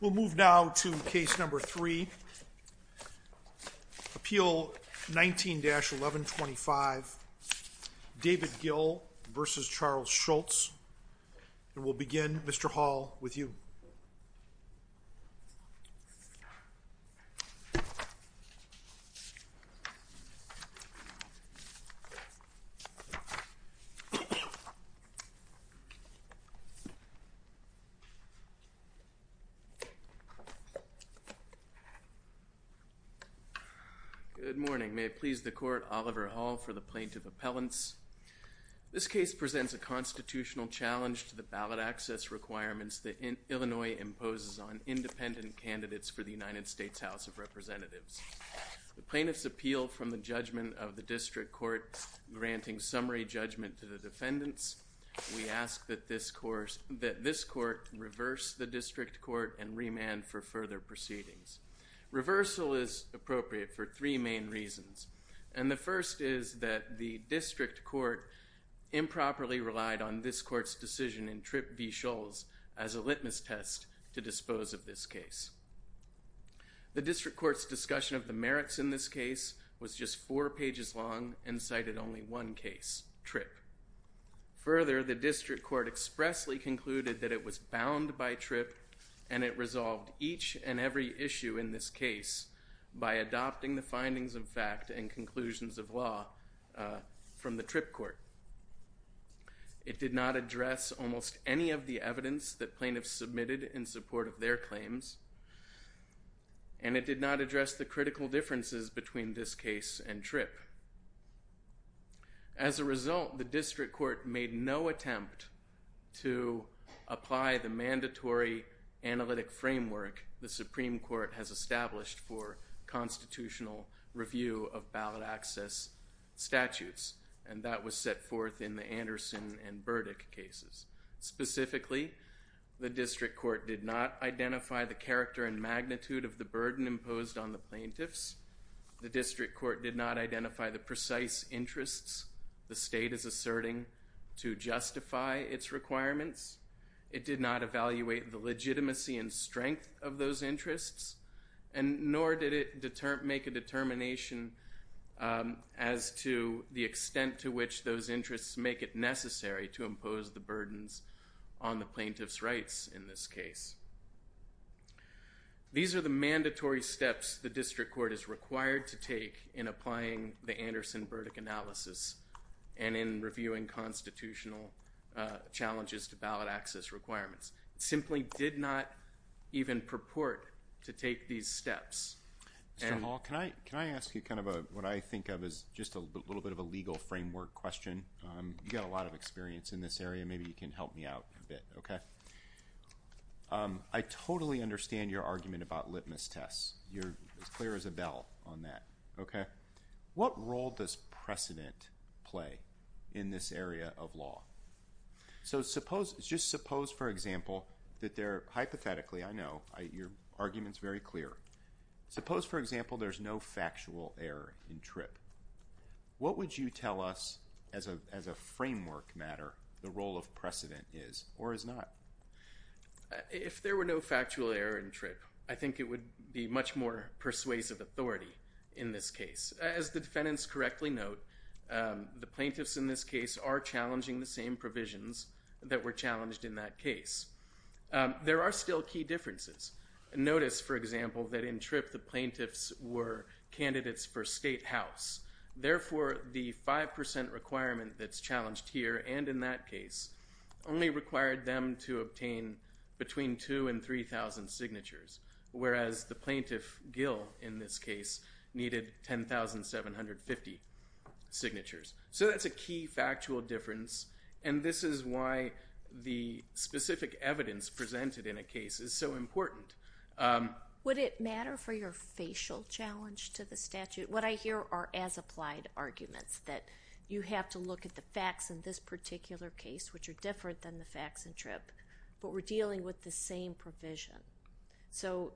We'll move now to case number three, Appeal 19-1125, David Gill v. Charles Scholz, and we'll begin, Mr. Hall, with you. David Gill v. Charles Scholz Good morning. May it please the Court, Oliver Hall for the plaintiff's appellants. This case presents a constitutional challenge to the ballot access requirements that Illinois imposes on independent candidates for the United States House of Representatives. The plaintiffs appeal from the judgment of the district court granting summary judgment to the defendants. We ask that this court reverse the district court and remand for further proceedings. Reversal is appropriate for three main reasons. And the first is that the district court improperly relied on this court's decision in Tripp v. Scholz as a litmus test to dispose of this case. The district court's discussion of the merits in this case was just four pages long and cited only one case, Tripp. Further, the district court expressly concluded that it was bound by Tripp and it resolved each and every issue in this case by adopting the findings of fact and conclusions of law from the Tripp court. It did not address almost any of the evidence that plaintiffs submitted in support of their claims. And it did not address the critical differences between this case and Tripp. As a result, the district court made no attempt to apply the mandatory analytic framework the Supreme Court has established for constitutional review of ballot access statutes. And that was set forth in the Anderson and Burdick cases. Specifically, the district court did not identify the character and magnitude of the burden imposed on the plaintiffs. The district court did not identify the precise interests the state is asserting to justify its requirements. It did not evaluate the legitimacy and strength of those interests. And nor did it make a determination as to the extent to which those interests make it necessary to impose the burdens on the plaintiffs' rights in this case. These are the mandatory steps the district court is required to take in applying the Anderson Burdick analysis and in reviewing constitutional challenges to ballot access requirements. It simply did not even purport to take these steps. Mr. Hall, can I ask you kind of what I think of as just a little bit of a legal framework question? You've got a lot of experience in this area. Maybe you can help me out a bit. I totally understand your argument about litmus tests. You're as clear as a bell on that. What role does precedent play in this area of law? So just suppose, for example, that hypothetically, I know, your argument's very clear. Suppose, for example, there's no factual error in TRIP. What would you tell us, as a framework matter, the role of precedent is or is not? If there were no factual error in TRIP, I think it would be much more persuasive authority in this case. As the defendants correctly note, the plaintiffs in this case are challenging the same provisions that were challenged in that case. There are still key differences. Notice, for example, that in TRIP, the plaintiffs were candidates for state house. Therefore, the 5% requirement that's challenged here and in that case only required them to obtain between 2,000 and 3,000 signatures, whereas the plaintiff, Gill, in this case, needed 10,750 signatures. So that's a key factual difference, and this is why the specific evidence presented in a case is so important. Would it matter for your facial challenge to the statute? What I hear are as-applied arguments that you have to look at the facts in this particular case, which are different than the facts in TRIP, but we're dealing with the same provision. So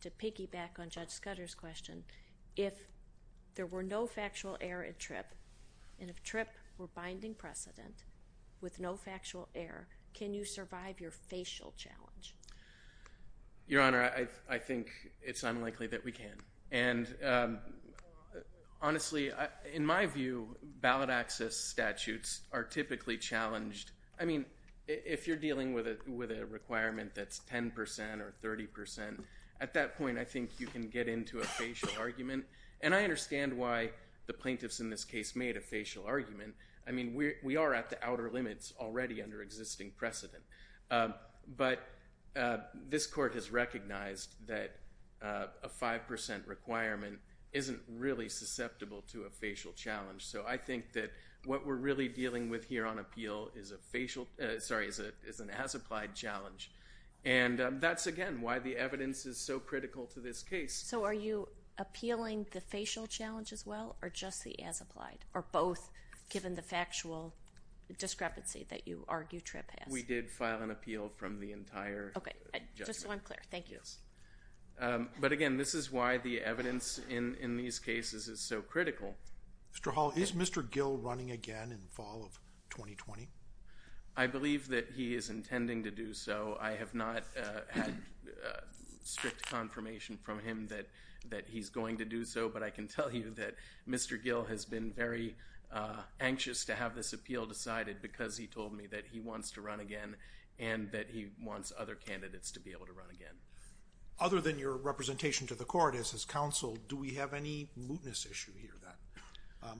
to piggyback on Judge Scudder's question, if there were no factual error in TRIP, and if TRIP were binding precedent with no factual error, can you survive your facial challenge? Your Honor, I think it's unlikely that we can. And honestly, in my view, ballot access statutes are typically challenged. I mean, if you're dealing with a requirement that's 10% or 30%, at that point, I think you can get into a facial argument. And I understand why the plaintiffs in this case made a facial argument. I mean, we are at the outer limits already under existing precedent. But this Court has recognized that a 5% requirement isn't really susceptible to a facial challenge. So I think that what we're really dealing with here on appeal is an as-applied challenge. And that's, again, why the evidence is so critical to this case. So are you appealing the facial challenge as well or just the as-applied, or both, given the factual discrepancy that you argue TRIP has? We did file an appeal from the entire judgment. Okay. Just so I'm clear. Thank you. But, again, this is why the evidence in these cases is so critical. Mr. Hall, is Mr. Gill running again in fall of 2020? I believe that he is intending to do so. I have not had strict confirmation from him that he's going to do so. But I can tell you that Mr. Gill has been very anxious to have this appeal decided because he told me that he wants to run again and that he wants other candidates to be able to run again. Other than your representation to the court as his counsel, do we have any mootness issue here, then?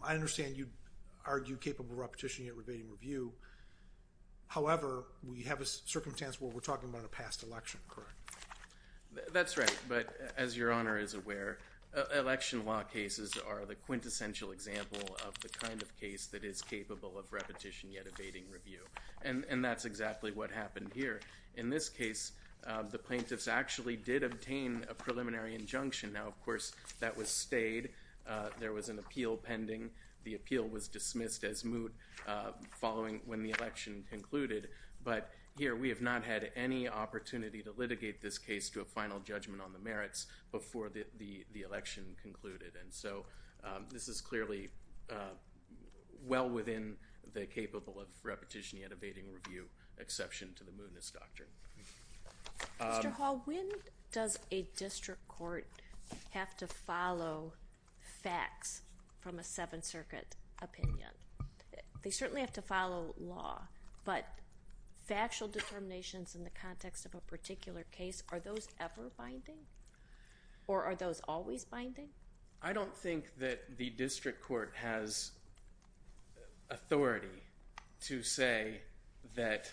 I understand you argue capable repetition yet evading review. However, we have a circumstance where we're talking about a past election, correct? That's right. But, as Your Honor is aware, election law cases are the quintessential example of the kind of case that is capable of repetition yet evading review. And that's exactly what happened here. In this case, the plaintiffs actually did obtain a preliminary injunction. Now, of course, that was stayed. There was an appeal pending. The appeal was dismissed as moot when the election concluded. But, here, we have not had any opportunity to litigate this case to a final judgment on the merits before the election concluded. And so, this is clearly well within the capable of repetition yet evading review exception to the mootness doctrine. Mr. Hall, when does a district court have to follow facts from a Seventh Circuit opinion? They certainly have to follow law, but factual determinations in the context of a particular case, are those ever binding or are those always binding? I don't think that the district court has authority to say that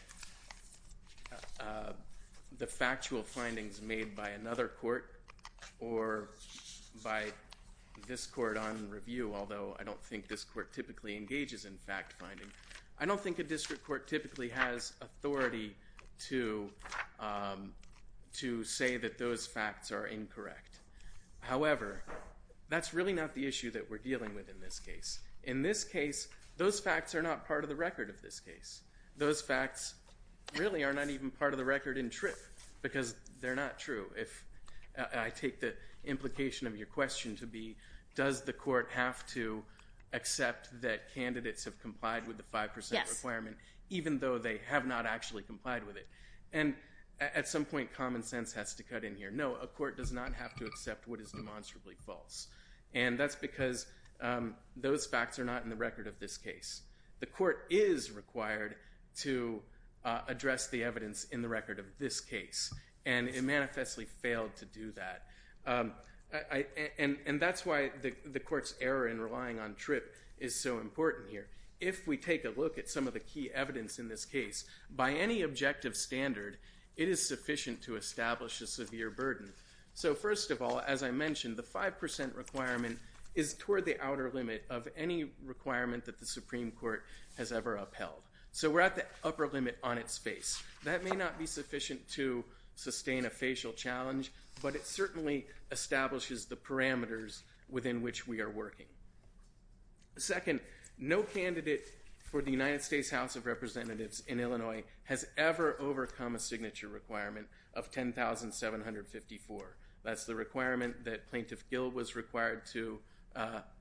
the factual findings made by another court or by this court on review, although I don't think this court typically engages in fact finding. I don't think a district court typically has authority to say that those facts are incorrect. However, that's really not the issue that we're dealing with in this case. In this case, those facts are not part of the record of this case. Those facts really are not even part of the record in TRIP, because they're not true. I take the implication of your question to be, does the court have to accept that candidates have complied with the 5% requirement, even though they have not actually complied with it? And, at some point, common sense has to cut in here. No, a court does not have to accept what is demonstrably false. And that's because those facts are not in the record of this case. The court is required to address the evidence in the record of this case, and it manifestly failed to do that. And that's why the court's error in relying on TRIP is so important here. If we take a look at some of the key evidence in this case, by any objective standard, it is sufficient to establish a severe burden. So, first of all, as I mentioned, the 5% requirement is toward the outer limit of any requirement that the Supreme Court has ever upheld. So we're at the upper limit on its face. That may not be sufficient to sustain a facial challenge, but it certainly establishes the parameters within which we are working. Second, no candidate for the United States House of Representatives in Illinois has ever overcome a signature requirement of 10,754. That's the requirement that Plaintiff Gill was required to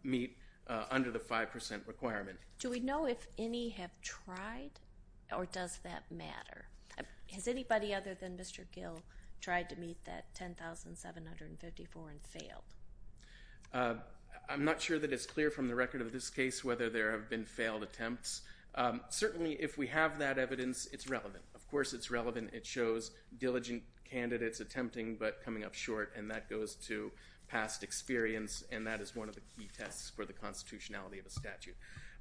meet under the 5% requirement. Do we know if any have tried, or does that matter? Has anybody other than Mr. Gill tried to meet that 10,754 and failed? I'm not sure that it's clear from the record of this case whether there have been failed attempts. Certainly, if we have that evidence, it's relevant. Of course, it's relevant. It shows diligent candidates attempting but coming up short, and that goes to past experience, and that is one of the key tests for the constitutionality of a statute.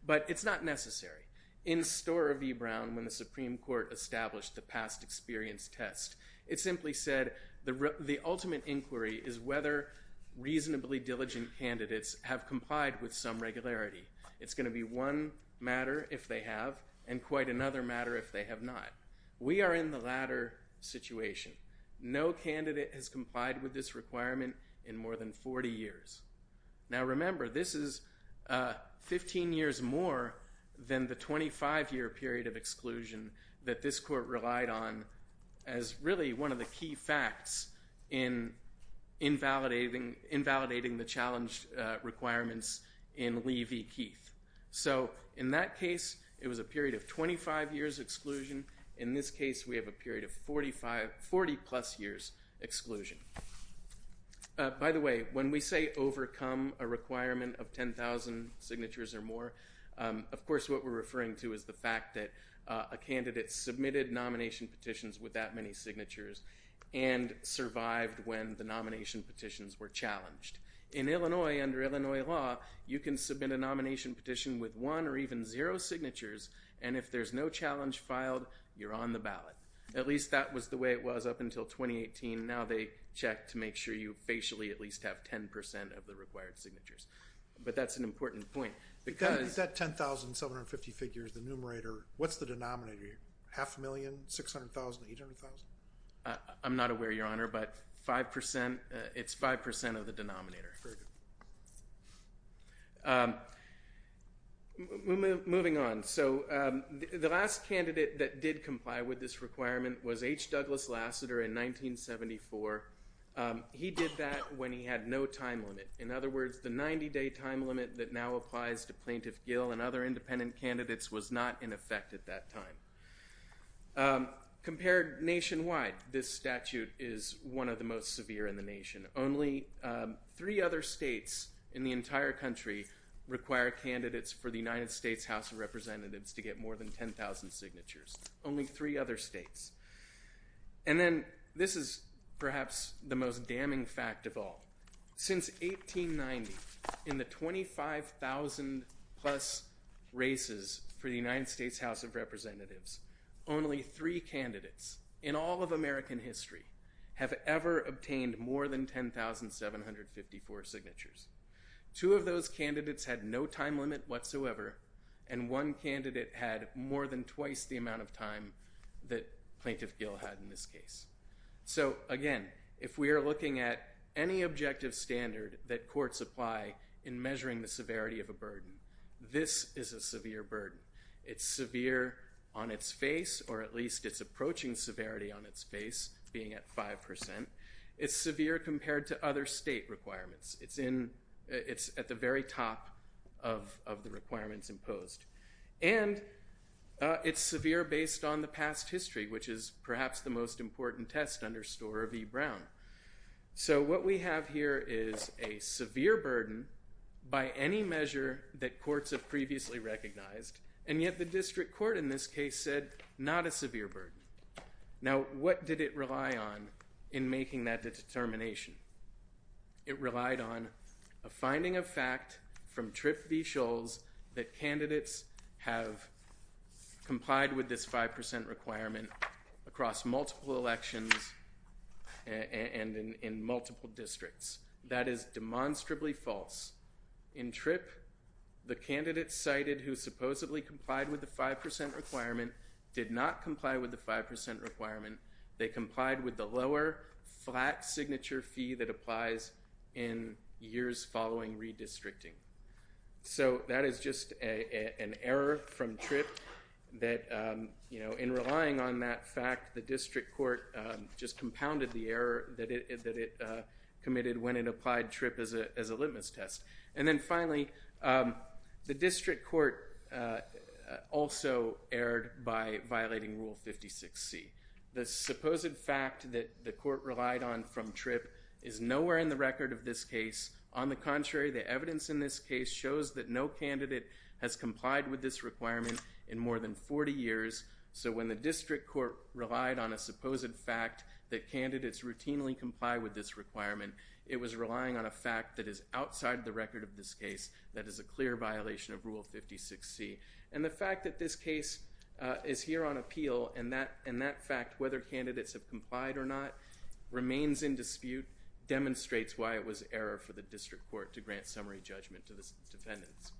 But it's not necessary. In store of E. Brown, when the Supreme Court established the past experience test, it simply said the ultimate inquiry is whether reasonably diligent candidates have complied with some regularity. It's going to be one matter if they have, and quite another matter if they have not. We are in the latter situation. No candidate has complied with this requirement in more than 40 years. Now, remember, this is 15 years more than the 25-year period of exclusion that this court relied on as really one of the key facts in invalidating the challenge requirements in Lee v. Keith. So in that case, it was a period of 25 years exclusion. In this case, we have a period of 40-plus years exclusion. By the way, when we say overcome a requirement of 10,000 signatures or more, of course what we're referring to is the fact that a candidate submitted nomination petitions with that many signatures and survived when the nomination petitions were challenged. In Illinois, under Illinois law, you can submit a nomination petition with one or even zero signatures, and if there's no challenge filed, you're on the ballot. At least that was the way it was up until 2018. Now they check to make sure you facially at least have 10% of the required signatures. But that's an important point. With that 10,750 figures, the numerator, what's the denominator here? Half a million, 600,000, 800,000? I'm not aware, Your Honor, but it's 5% of the denominator. Very good. Moving on. So the last candidate that did comply with this requirement was H. Douglas Lassiter in 1974. He did that when he had no time limit. In other words, the 90-day time limit that now applies to Plaintiff Gill and other independent candidates was not in effect at that time. Compared nationwide, this statute is one of the most severe in the nation. Only three other states in the entire country require candidates for the United States House of Representatives to get more than 10,000 signatures. Only three other states. And then this is perhaps the most damning fact of all. Since 1890, in the 25,000-plus races for the United States House of Representatives, only three candidates in all of American history have ever obtained more than 10,754 signatures. Two of those candidates had no time limit whatsoever, and one candidate had more than twice the amount of time that Plaintiff Gill had in this case. So, again, if we are looking at any objective standard that courts apply in measuring the severity of a burden, this is a severe burden. It's severe on its face, or at least it's approaching severity on its face, being at 5%. It's severe compared to other state requirements. It's at the very top of the requirements imposed. And it's severe based on the past history, which is perhaps the most important test under Storer v. Brown. So what we have here is a severe burden by any measure that courts have previously recognized, and yet the district court in this case said not a severe burden. Now, what did it rely on in making that determination? It relied on a finding of fact from Tripp v. Scholes that candidates have complied with this 5% requirement across multiple elections and in multiple districts. That is demonstrably false. In Tripp, the candidates cited who supposedly complied with the 5% requirement did not comply with the 5% requirement. They complied with the lower flat signature fee that applies in years following redistricting. So that is just an error from Tripp that, you know, in relying on that fact, the district court just compounded the error that it committed when it applied Tripp as a litmus test. And then finally, the district court also erred by violating Rule 56C. The supposed fact that the court relied on from Tripp is nowhere in the record of this case. On the contrary, the evidence in this case shows that no candidate has complied with this requirement in more than 40 years. So when the district court relied on a supposed fact that candidates routinely comply with this requirement, it was relying on a fact that is outside the record of this case that is a clear violation of Rule 56C. And the fact that this case is here on appeal and that fact, whether candidates have complied or not, remains in dispute, demonstrates why it was error for the district court to grant summary judgment to the defendants.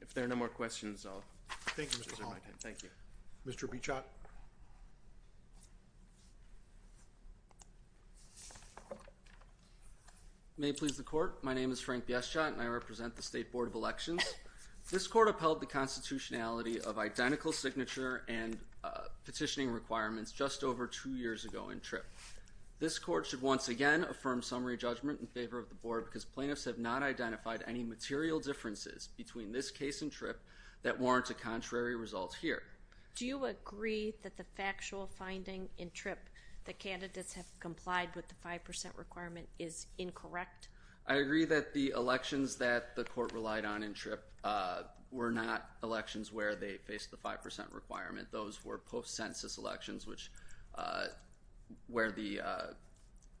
If there are no more questions, I'll reserve my time. Thank you. Mr. Beauchat. May it please the court, my name is Frank Beauchat and I represent the State Board of Elections. This court upheld the constitutionality of identical signature and petitioning requirements just over two years ago in Tripp. This court should once again affirm summary judgment in favor of the board because plaintiffs have not identified any material differences between this case in Tripp that warrant a contrary result here. Do you agree that the factual finding in Tripp that candidates have complied with the 5% requirement is incorrect? I agree that the elections that the court relied on in Tripp were not elections where they faced the 5% requirement. Those were post-census elections where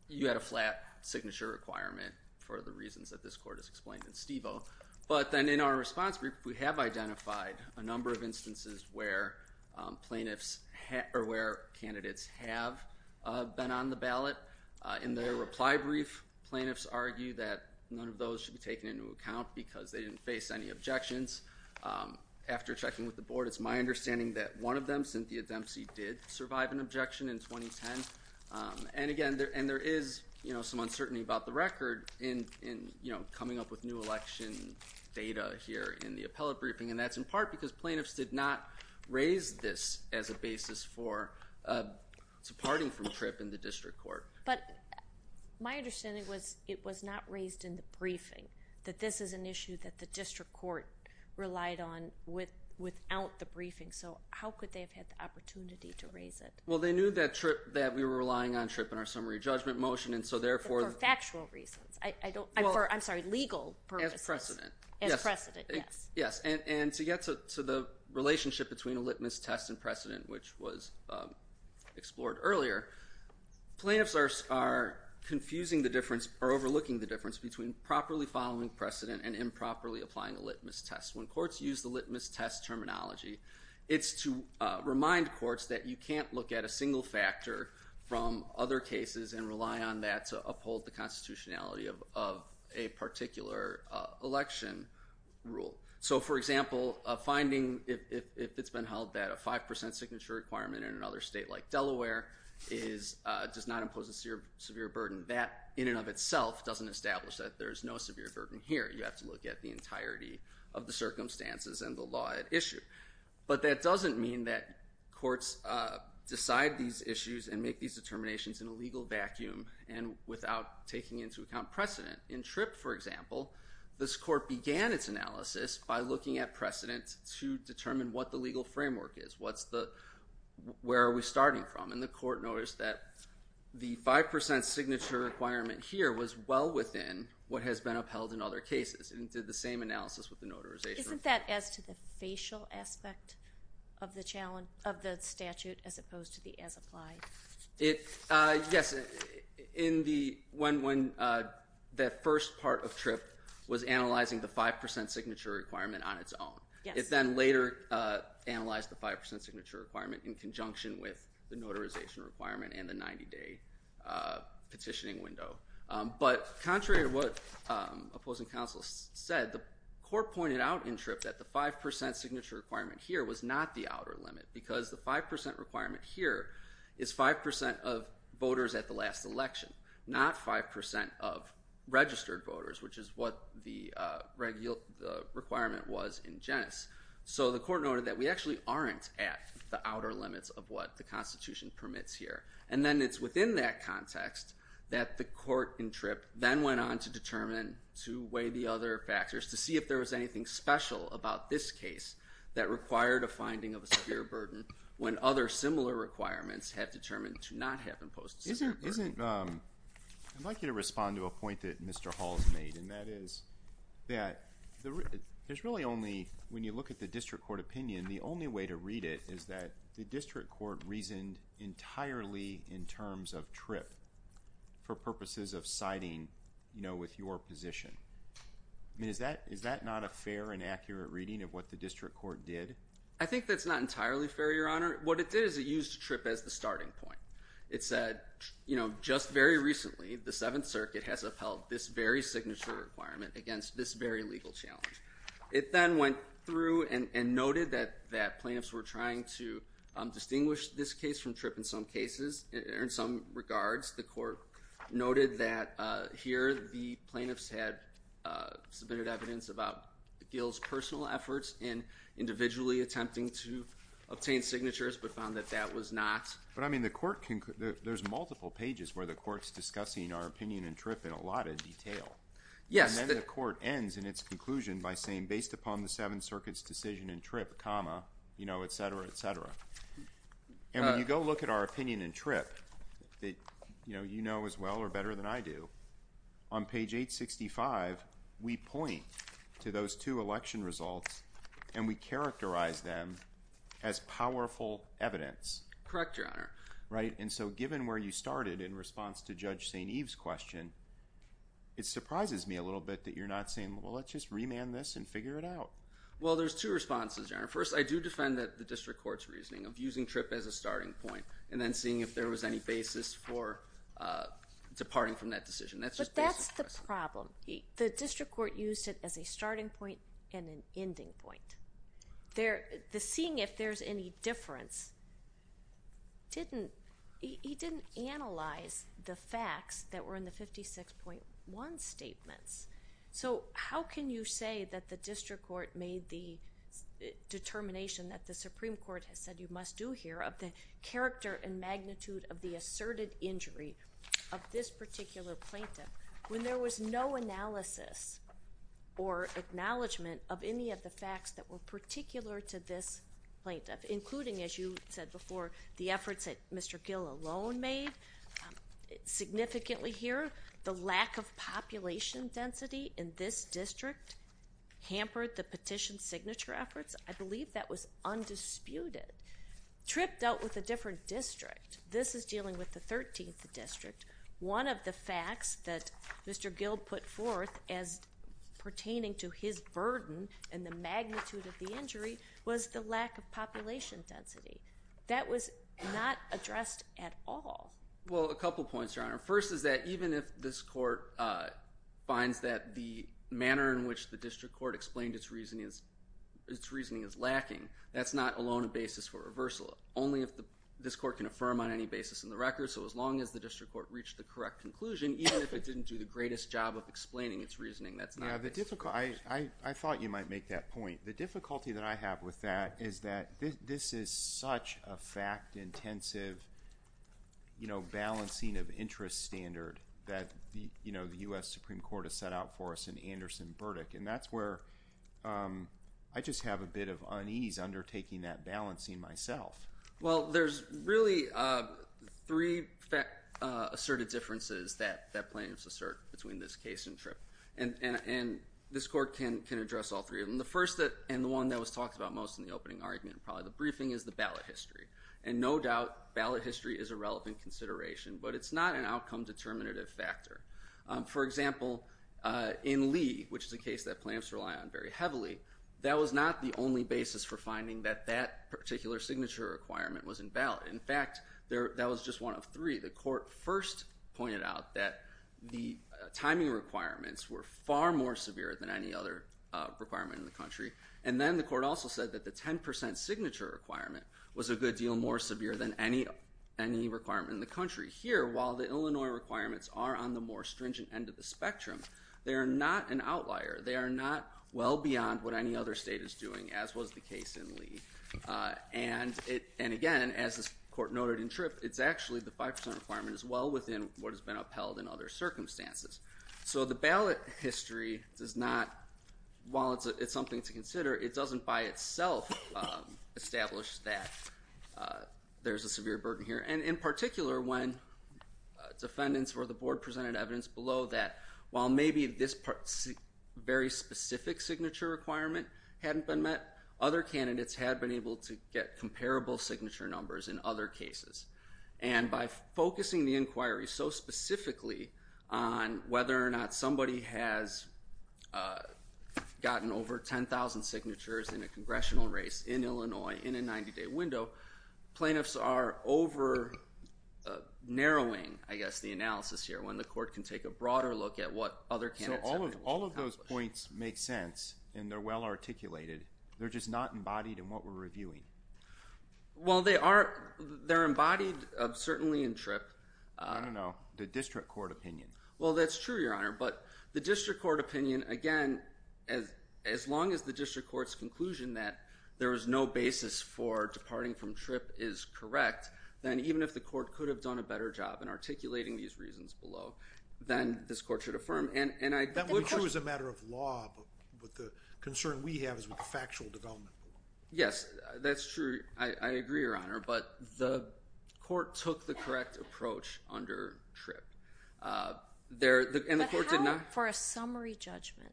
you had a flat signature requirement for the reasons that this court has explained in Stevo. But then in our response brief, we have identified a number of instances where candidates have been on the ballot. In their reply brief, plaintiffs argue that none of those should be taken into account because they didn't face any objections. After checking with the board, it's my understanding that one of them, Cynthia Dempsey, did survive an objection in 2010. And again, there is some uncertainty about the record in coming up with new election data here in the appellate briefing. And that's in part because plaintiffs did not raise this as a basis for departing from Tripp in the district court. But my understanding was it was not raised in the briefing, that this is an issue that the district court relied on without the briefing. So how could they have had the opportunity to raise it? Well, they knew that we were relying on Tripp in our summary judgment motion, and so therefore... For factual reasons. I'm sorry, legal purposes. As precedent. As precedent, yes. Yes, and to get to the relationship between a litmus test and precedent, which was explored earlier, plaintiffs are confusing the difference or overlooking the difference between properly following precedent and improperly applying a litmus test. When courts use the litmus test terminology, it's to remind courts that you can't look at a single factor from other cases and rely on that to uphold the constitutionality of a particular election rule. So, for example, a finding, if it's been held that a 5% signature requirement in another state like Delaware does not impose a severe burden, that in and of itself doesn't establish that there's no severe burden here. You have to look at the entirety of the circumstances and the law at issue. But that doesn't mean that courts decide these issues and make these determinations in a legal vacuum and without taking into account precedent. In Tripp, for example, this court began its analysis by looking at precedent to determine what the legal framework is. Where are we starting from? And the court noticed that the 5% signature requirement here was well within what has been upheld in other cases and did the same analysis with the notarization. Isn't that as to the facial aspect of the statute as opposed to the as applied? Yes. When that first part of Tripp was analyzing the 5% signature requirement on its own. It then later analyzed the 5% signature requirement in conjunction with the notarization requirement and the 90-day petitioning window. But contrary to what opposing counsel said, the court pointed out in Tripp that the 5% signature requirement here was not the outer limit because the 5% requirement here is 5% of voters at the last election, not 5% of registered voters, which is what the requirement was in Genes. So the court noted that we actually aren't at the outer limits of what the Constitution permits here. And then it's within that context that the court in Tripp then went on to determine, to weigh the other factors, to see if there was anything special about this case that required a finding of a severe burden when other similar requirements have determined to not have imposed a severe burden. I'd like you to respond to a point that Mr. Hall has made, and that is that there's really only, when you look at the district court opinion, the only way to read it is that the district court reasoned entirely in terms of Tripp for purposes of siding with your position. I mean, is that not a fair and accurate reading of what the district court did? I think that's not entirely fair, Your Honor. What it did is it used Tripp as the starting point. It said, you know, just very recently, the Seventh Circuit has upheld this very signature requirement against this very legal challenge. It then went through and noted that plaintiffs were trying to distinguish this case from Tripp in some cases, or in some regards. The court noted that here the plaintiffs had submitted evidence about Gil's personal efforts in individually attempting to obtain signatures, but found that that was not. But, I mean, there's multiple pages where the court's discussing our opinion in Tripp in a lot of detail. Yes. And then the court ends in its conclusion by saying, based upon the Seventh Circuit's decision in Tripp, comma, you know, et cetera, et cetera. And when you go look at our opinion in Tripp that, you know, you know as well or better than I do, on page 865, we point to those two election results, and we characterize them as powerful evidence. Correct, Your Honor. Right. And so given where you started in response to Judge St. Eve's question, it surprises me a little bit that you're not saying, well, let's just remand this and figure it out. Well, there's two responses, Your Honor. First, I do defend the district court's reasoning of using Tripp as a starting point and then seeing if there was any basis for departing from that decision. But that's the problem. The district court used it as a starting point and an ending point. The seeing if there's any difference didn't analyze the facts that were in the 56.1 statements. So how can you say that the district court made the determination that the Supreme Court has said you must do here of the character and magnitude of the asserted injury of this particular plaintiff when there was no analysis or acknowledgement of any of the facts that were particular to this plaintiff, including, as you said before, the efforts that Mr. Gill alone made. Significantly here, the lack of population density in this district hampered the petition signature efforts. I believe that was undisputed. Tripp dealt with a different district. This is dealing with the 13th district. One of the facts that Mr. Gill put forth as pertaining to his burden and the magnitude of the injury was the lack of population density. That was not addressed at all. Well, a couple points, Your Honor. First is that even if this court finds that the manner in which the district court explained its reasoning is lacking, that's not alone a basis for reversal. Only if this court can affirm on any basis in the record. So as long as the district court reached the correct conclusion, even if it didn't do the greatest job of explaining its reasoning, that's not a basis for reversal. I thought you might make that point. The difficulty that I have with that is that this is such a fact-intensive balancing of interest standard that the U.S. Supreme Court has set out for us an Anderson verdict. And that's where I just have a bit of unease undertaking that balancing myself. Well, there's really three asserted differences that plaintiffs assert between this case and Tripp. And this court can address all three of them. The first and the one that was talked about most in the opening argument and probably the briefing is the ballot history. And no doubt ballot history is a relevant consideration, but it's not an outcome determinative factor. For example, in Lee, which is a case that plaintiffs rely on very heavily, that was not the only basis for finding that that particular signature requirement was invalid. In fact, that was just one of three. The court first pointed out that the timing requirements were far more severe than any other requirement in the country. And then the court also said that the 10% signature requirement was a good deal more severe than any requirement in the country. Here, while the Illinois requirements are on the more stringent end of the spectrum, they are not an outlier. They are not well beyond what any other state is doing, as was the case in Lee. And again, as this court noted in Tripp, it's actually the 5% requirement is well within what has been upheld in other circumstances. So the ballot history does not, while it's something to consider, it doesn't by itself establish that there's a severe burden here. And in particular, when defendants or the board presented evidence below that, while maybe this very specific signature requirement hadn't been met, other candidates had been able to get comparable signature numbers in other cases. And by focusing the inquiry so specifically on whether or not somebody has gotten over 10,000 signatures in a congressional race in Illinois in a 90-day window, plaintiffs are over-narrowing, I guess, the analysis here when the court can take a broader look at what other candidates have accomplished. So all of those points make sense, and they're well articulated. They're just not embodied in what we're reviewing. Well, they are embodied certainly in Tripp. I don't know. The district court opinion. Well, that's true, Your Honor. But the district court opinion, again, as long as the district court's conclusion that there is no basis for departing from Tripp is correct, then even if the court could have done a better job in articulating these reasons below, then this court should affirm. That would be true as a matter of law, but the concern we have is with the factual development. Yes, that's true. I agree, Your Honor. But the court took the correct approach under Tripp. But how about for a summary judgment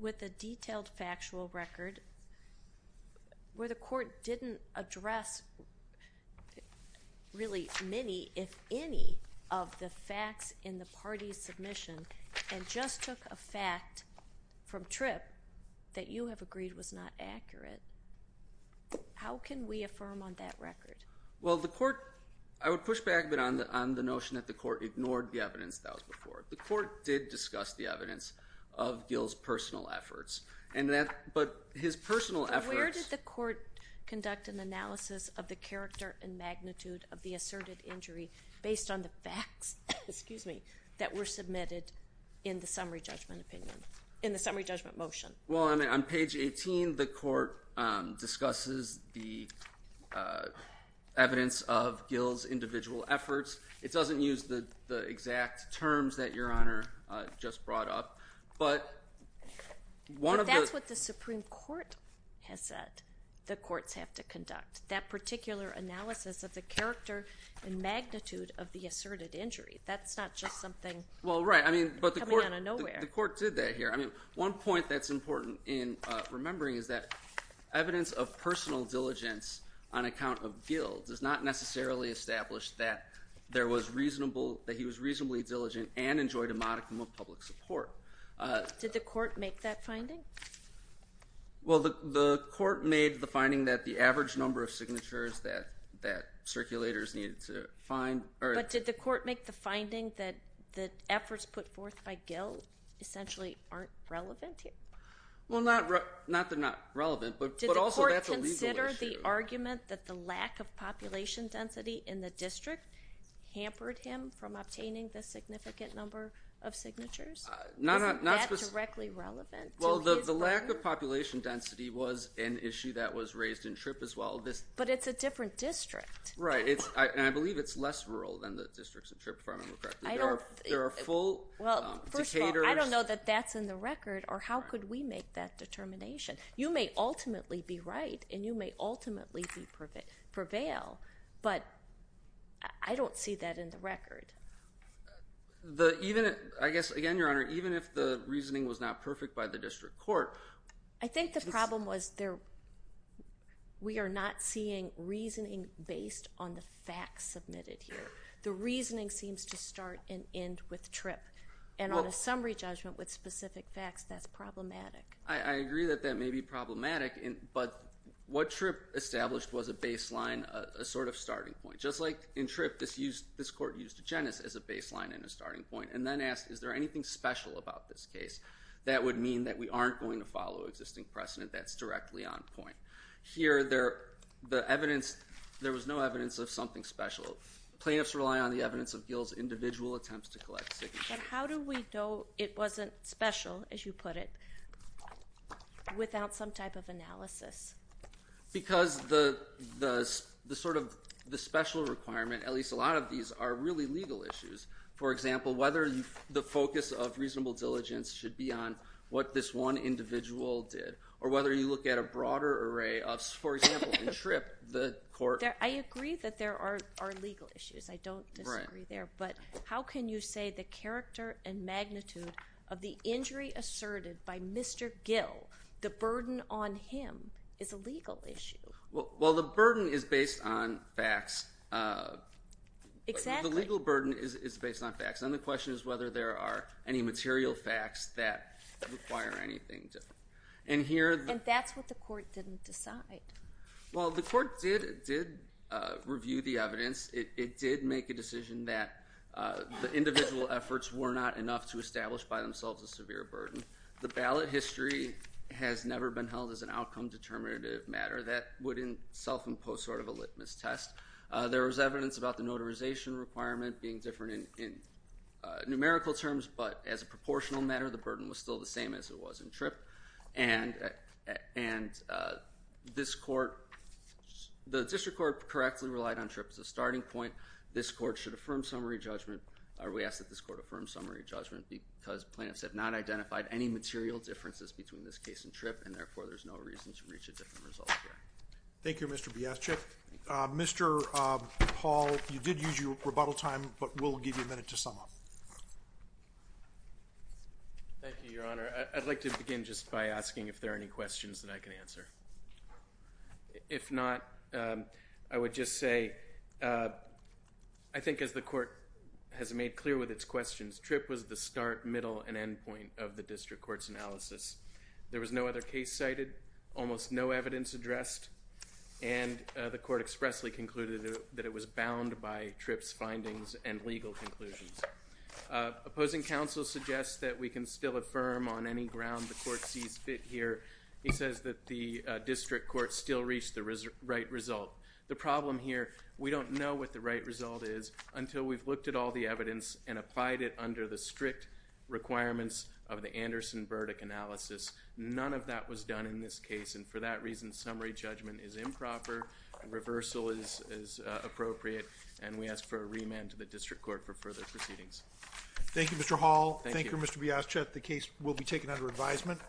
with a detailed factual record where the court didn't address really many, if any, of the facts in the party's submission and just took a fact from Tripp that you have agreed was not accurate? How can we affirm on that record? Well, the court, I would push back a bit on the notion that the court ignored the evidence that was before it. The court did discuss the evidence of Gill's personal efforts, but his personal efforts. But where did the court conduct an analysis of the character and magnitude of the asserted injury based on the facts, excuse me, that were submitted in the summary judgment motion? Well, on page 18, the court discusses the evidence of Gill's individual efforts. It doesn't use the exact terms that Your Honor just brought up. But that's what the Supreme Court has said the courts have to conduct, that particular analysis of the character and magnitude of the asserted injury. That's not just something coming out of nowhere. Well, right. But the court did that here. I mean, one point that's important in remembering is that evidence of personal diligence on account of Gill does not necessarily establish that there was reasonable, that he was reasonably diligent and enjoyed a modicum of public support. Did the court make that finding? Well, the court made the finding that the average number of signatures that circulators needed to find. But did the court make the finding that the efforts put forth by Gill essentially aren't relevant here? Well, not that they're not relevant, but also that's a legal issue. Did the court consider the argument that the lack of population density in the district hampered him from obtaining the significant number of signatures? Isn't that directly relevant to his burden? Well, the lack of population density was an issue that was raised in SHRP as well. But it's a different district. Right, and I believe it's less rural than the districts in SHRP, if I remember correctly. There are full decaders. Well, first of all, I don't know that that's in the record or how could we make that determination. You may ultimately be right and you may ultimately prevail, but I don't see that in the record. I guess, again, Your Honor, even if the reasoning was not perfect by the district court. I think the problem was we are not seeing reasoning based on the facts submitted here. The reasoning seems to start and end with TRIP. And on a summary judgment with specific facts, that's problematic. I agree that that may be problematic, but what TRIP established was a baseline, a sort of starting point. Just like in TRIP, this court used a genus as a baseline and a starting point and then asked is there anything special about this case that would mean that we aren't going to find and follow existing precedent that's directly on point. Here, there was no evidence of something special. Plaintiffs rely on the evidence of Gil's individual attempts to collect signatures. But how do we know it wasn't special, as you put it, without some type of analysis? Because the sort of special requirement, at least a lot of these, are really legal issues. For example, whether the focus of reasonable diligence should be on what this one individual did or whether you look at a broader array of, for example, in TRIP, the court. I agree that there are legal issues. I don't disagree there. But how can you say the character and magnitude of the injury asserted by Mr. Gil, the burden on him, is a legal issue? Well, the burden is based on facts. Exactly. The legal burden is based on facts. And the question is whether there are any material facts that require anything different. And that's what the court didn't decide. Well, the court did review the evidence. It did make a decision that the individual efforts were not enough to establish by themselves a severe burden. The ballot history has never been held as an outcome determinative matter. That wouldn't self-impose sort of a litmus test. There was evidence about the notarization requirement being different in numerical terms, but as a proportional matter, the burden was still the same as it was in TRIP. And this court, the district court correctly relied on TRIP as a starting point. This court should affirm summary judgment, or we ask that this court affirm summary judgment, because plaintiffs have not identified any material differences between this case and TRIP, and therefore there's no reason to reach a different result here. Thank you, Mr. Biaschek. Mr. Paul, you did use your rebuttal time, but we'll give you a minute to sum up. Thank you, Your Honor. I'd like to begin just by asking if there are any questions that I can answer. If not, I would just say I think as the court has made clear with its questions, TRIP was the start, middle, and end point of the district court's analysis. There was no other case cited, almost no evidence addressed, and the court expressly concluded that it was bound by TRIP's findings and legal conclusions. Opposing counsel suggests that we can still affirm on any ground the court sees fit here. He says that the district court still reached the right result. The problem here, we don't know what the right result is until we've looked at all the evidence and applied it under the strict requirements of the Anderson verdict analysis. None of that was done in this case, and for that reason, summary judgment is improper. Reversal is appropriate, and we ask for a remand to the district court for further proceedings. Thank you, Mr. Hall. Thank you, Mr. Biaschek. The case will be taken under advisement.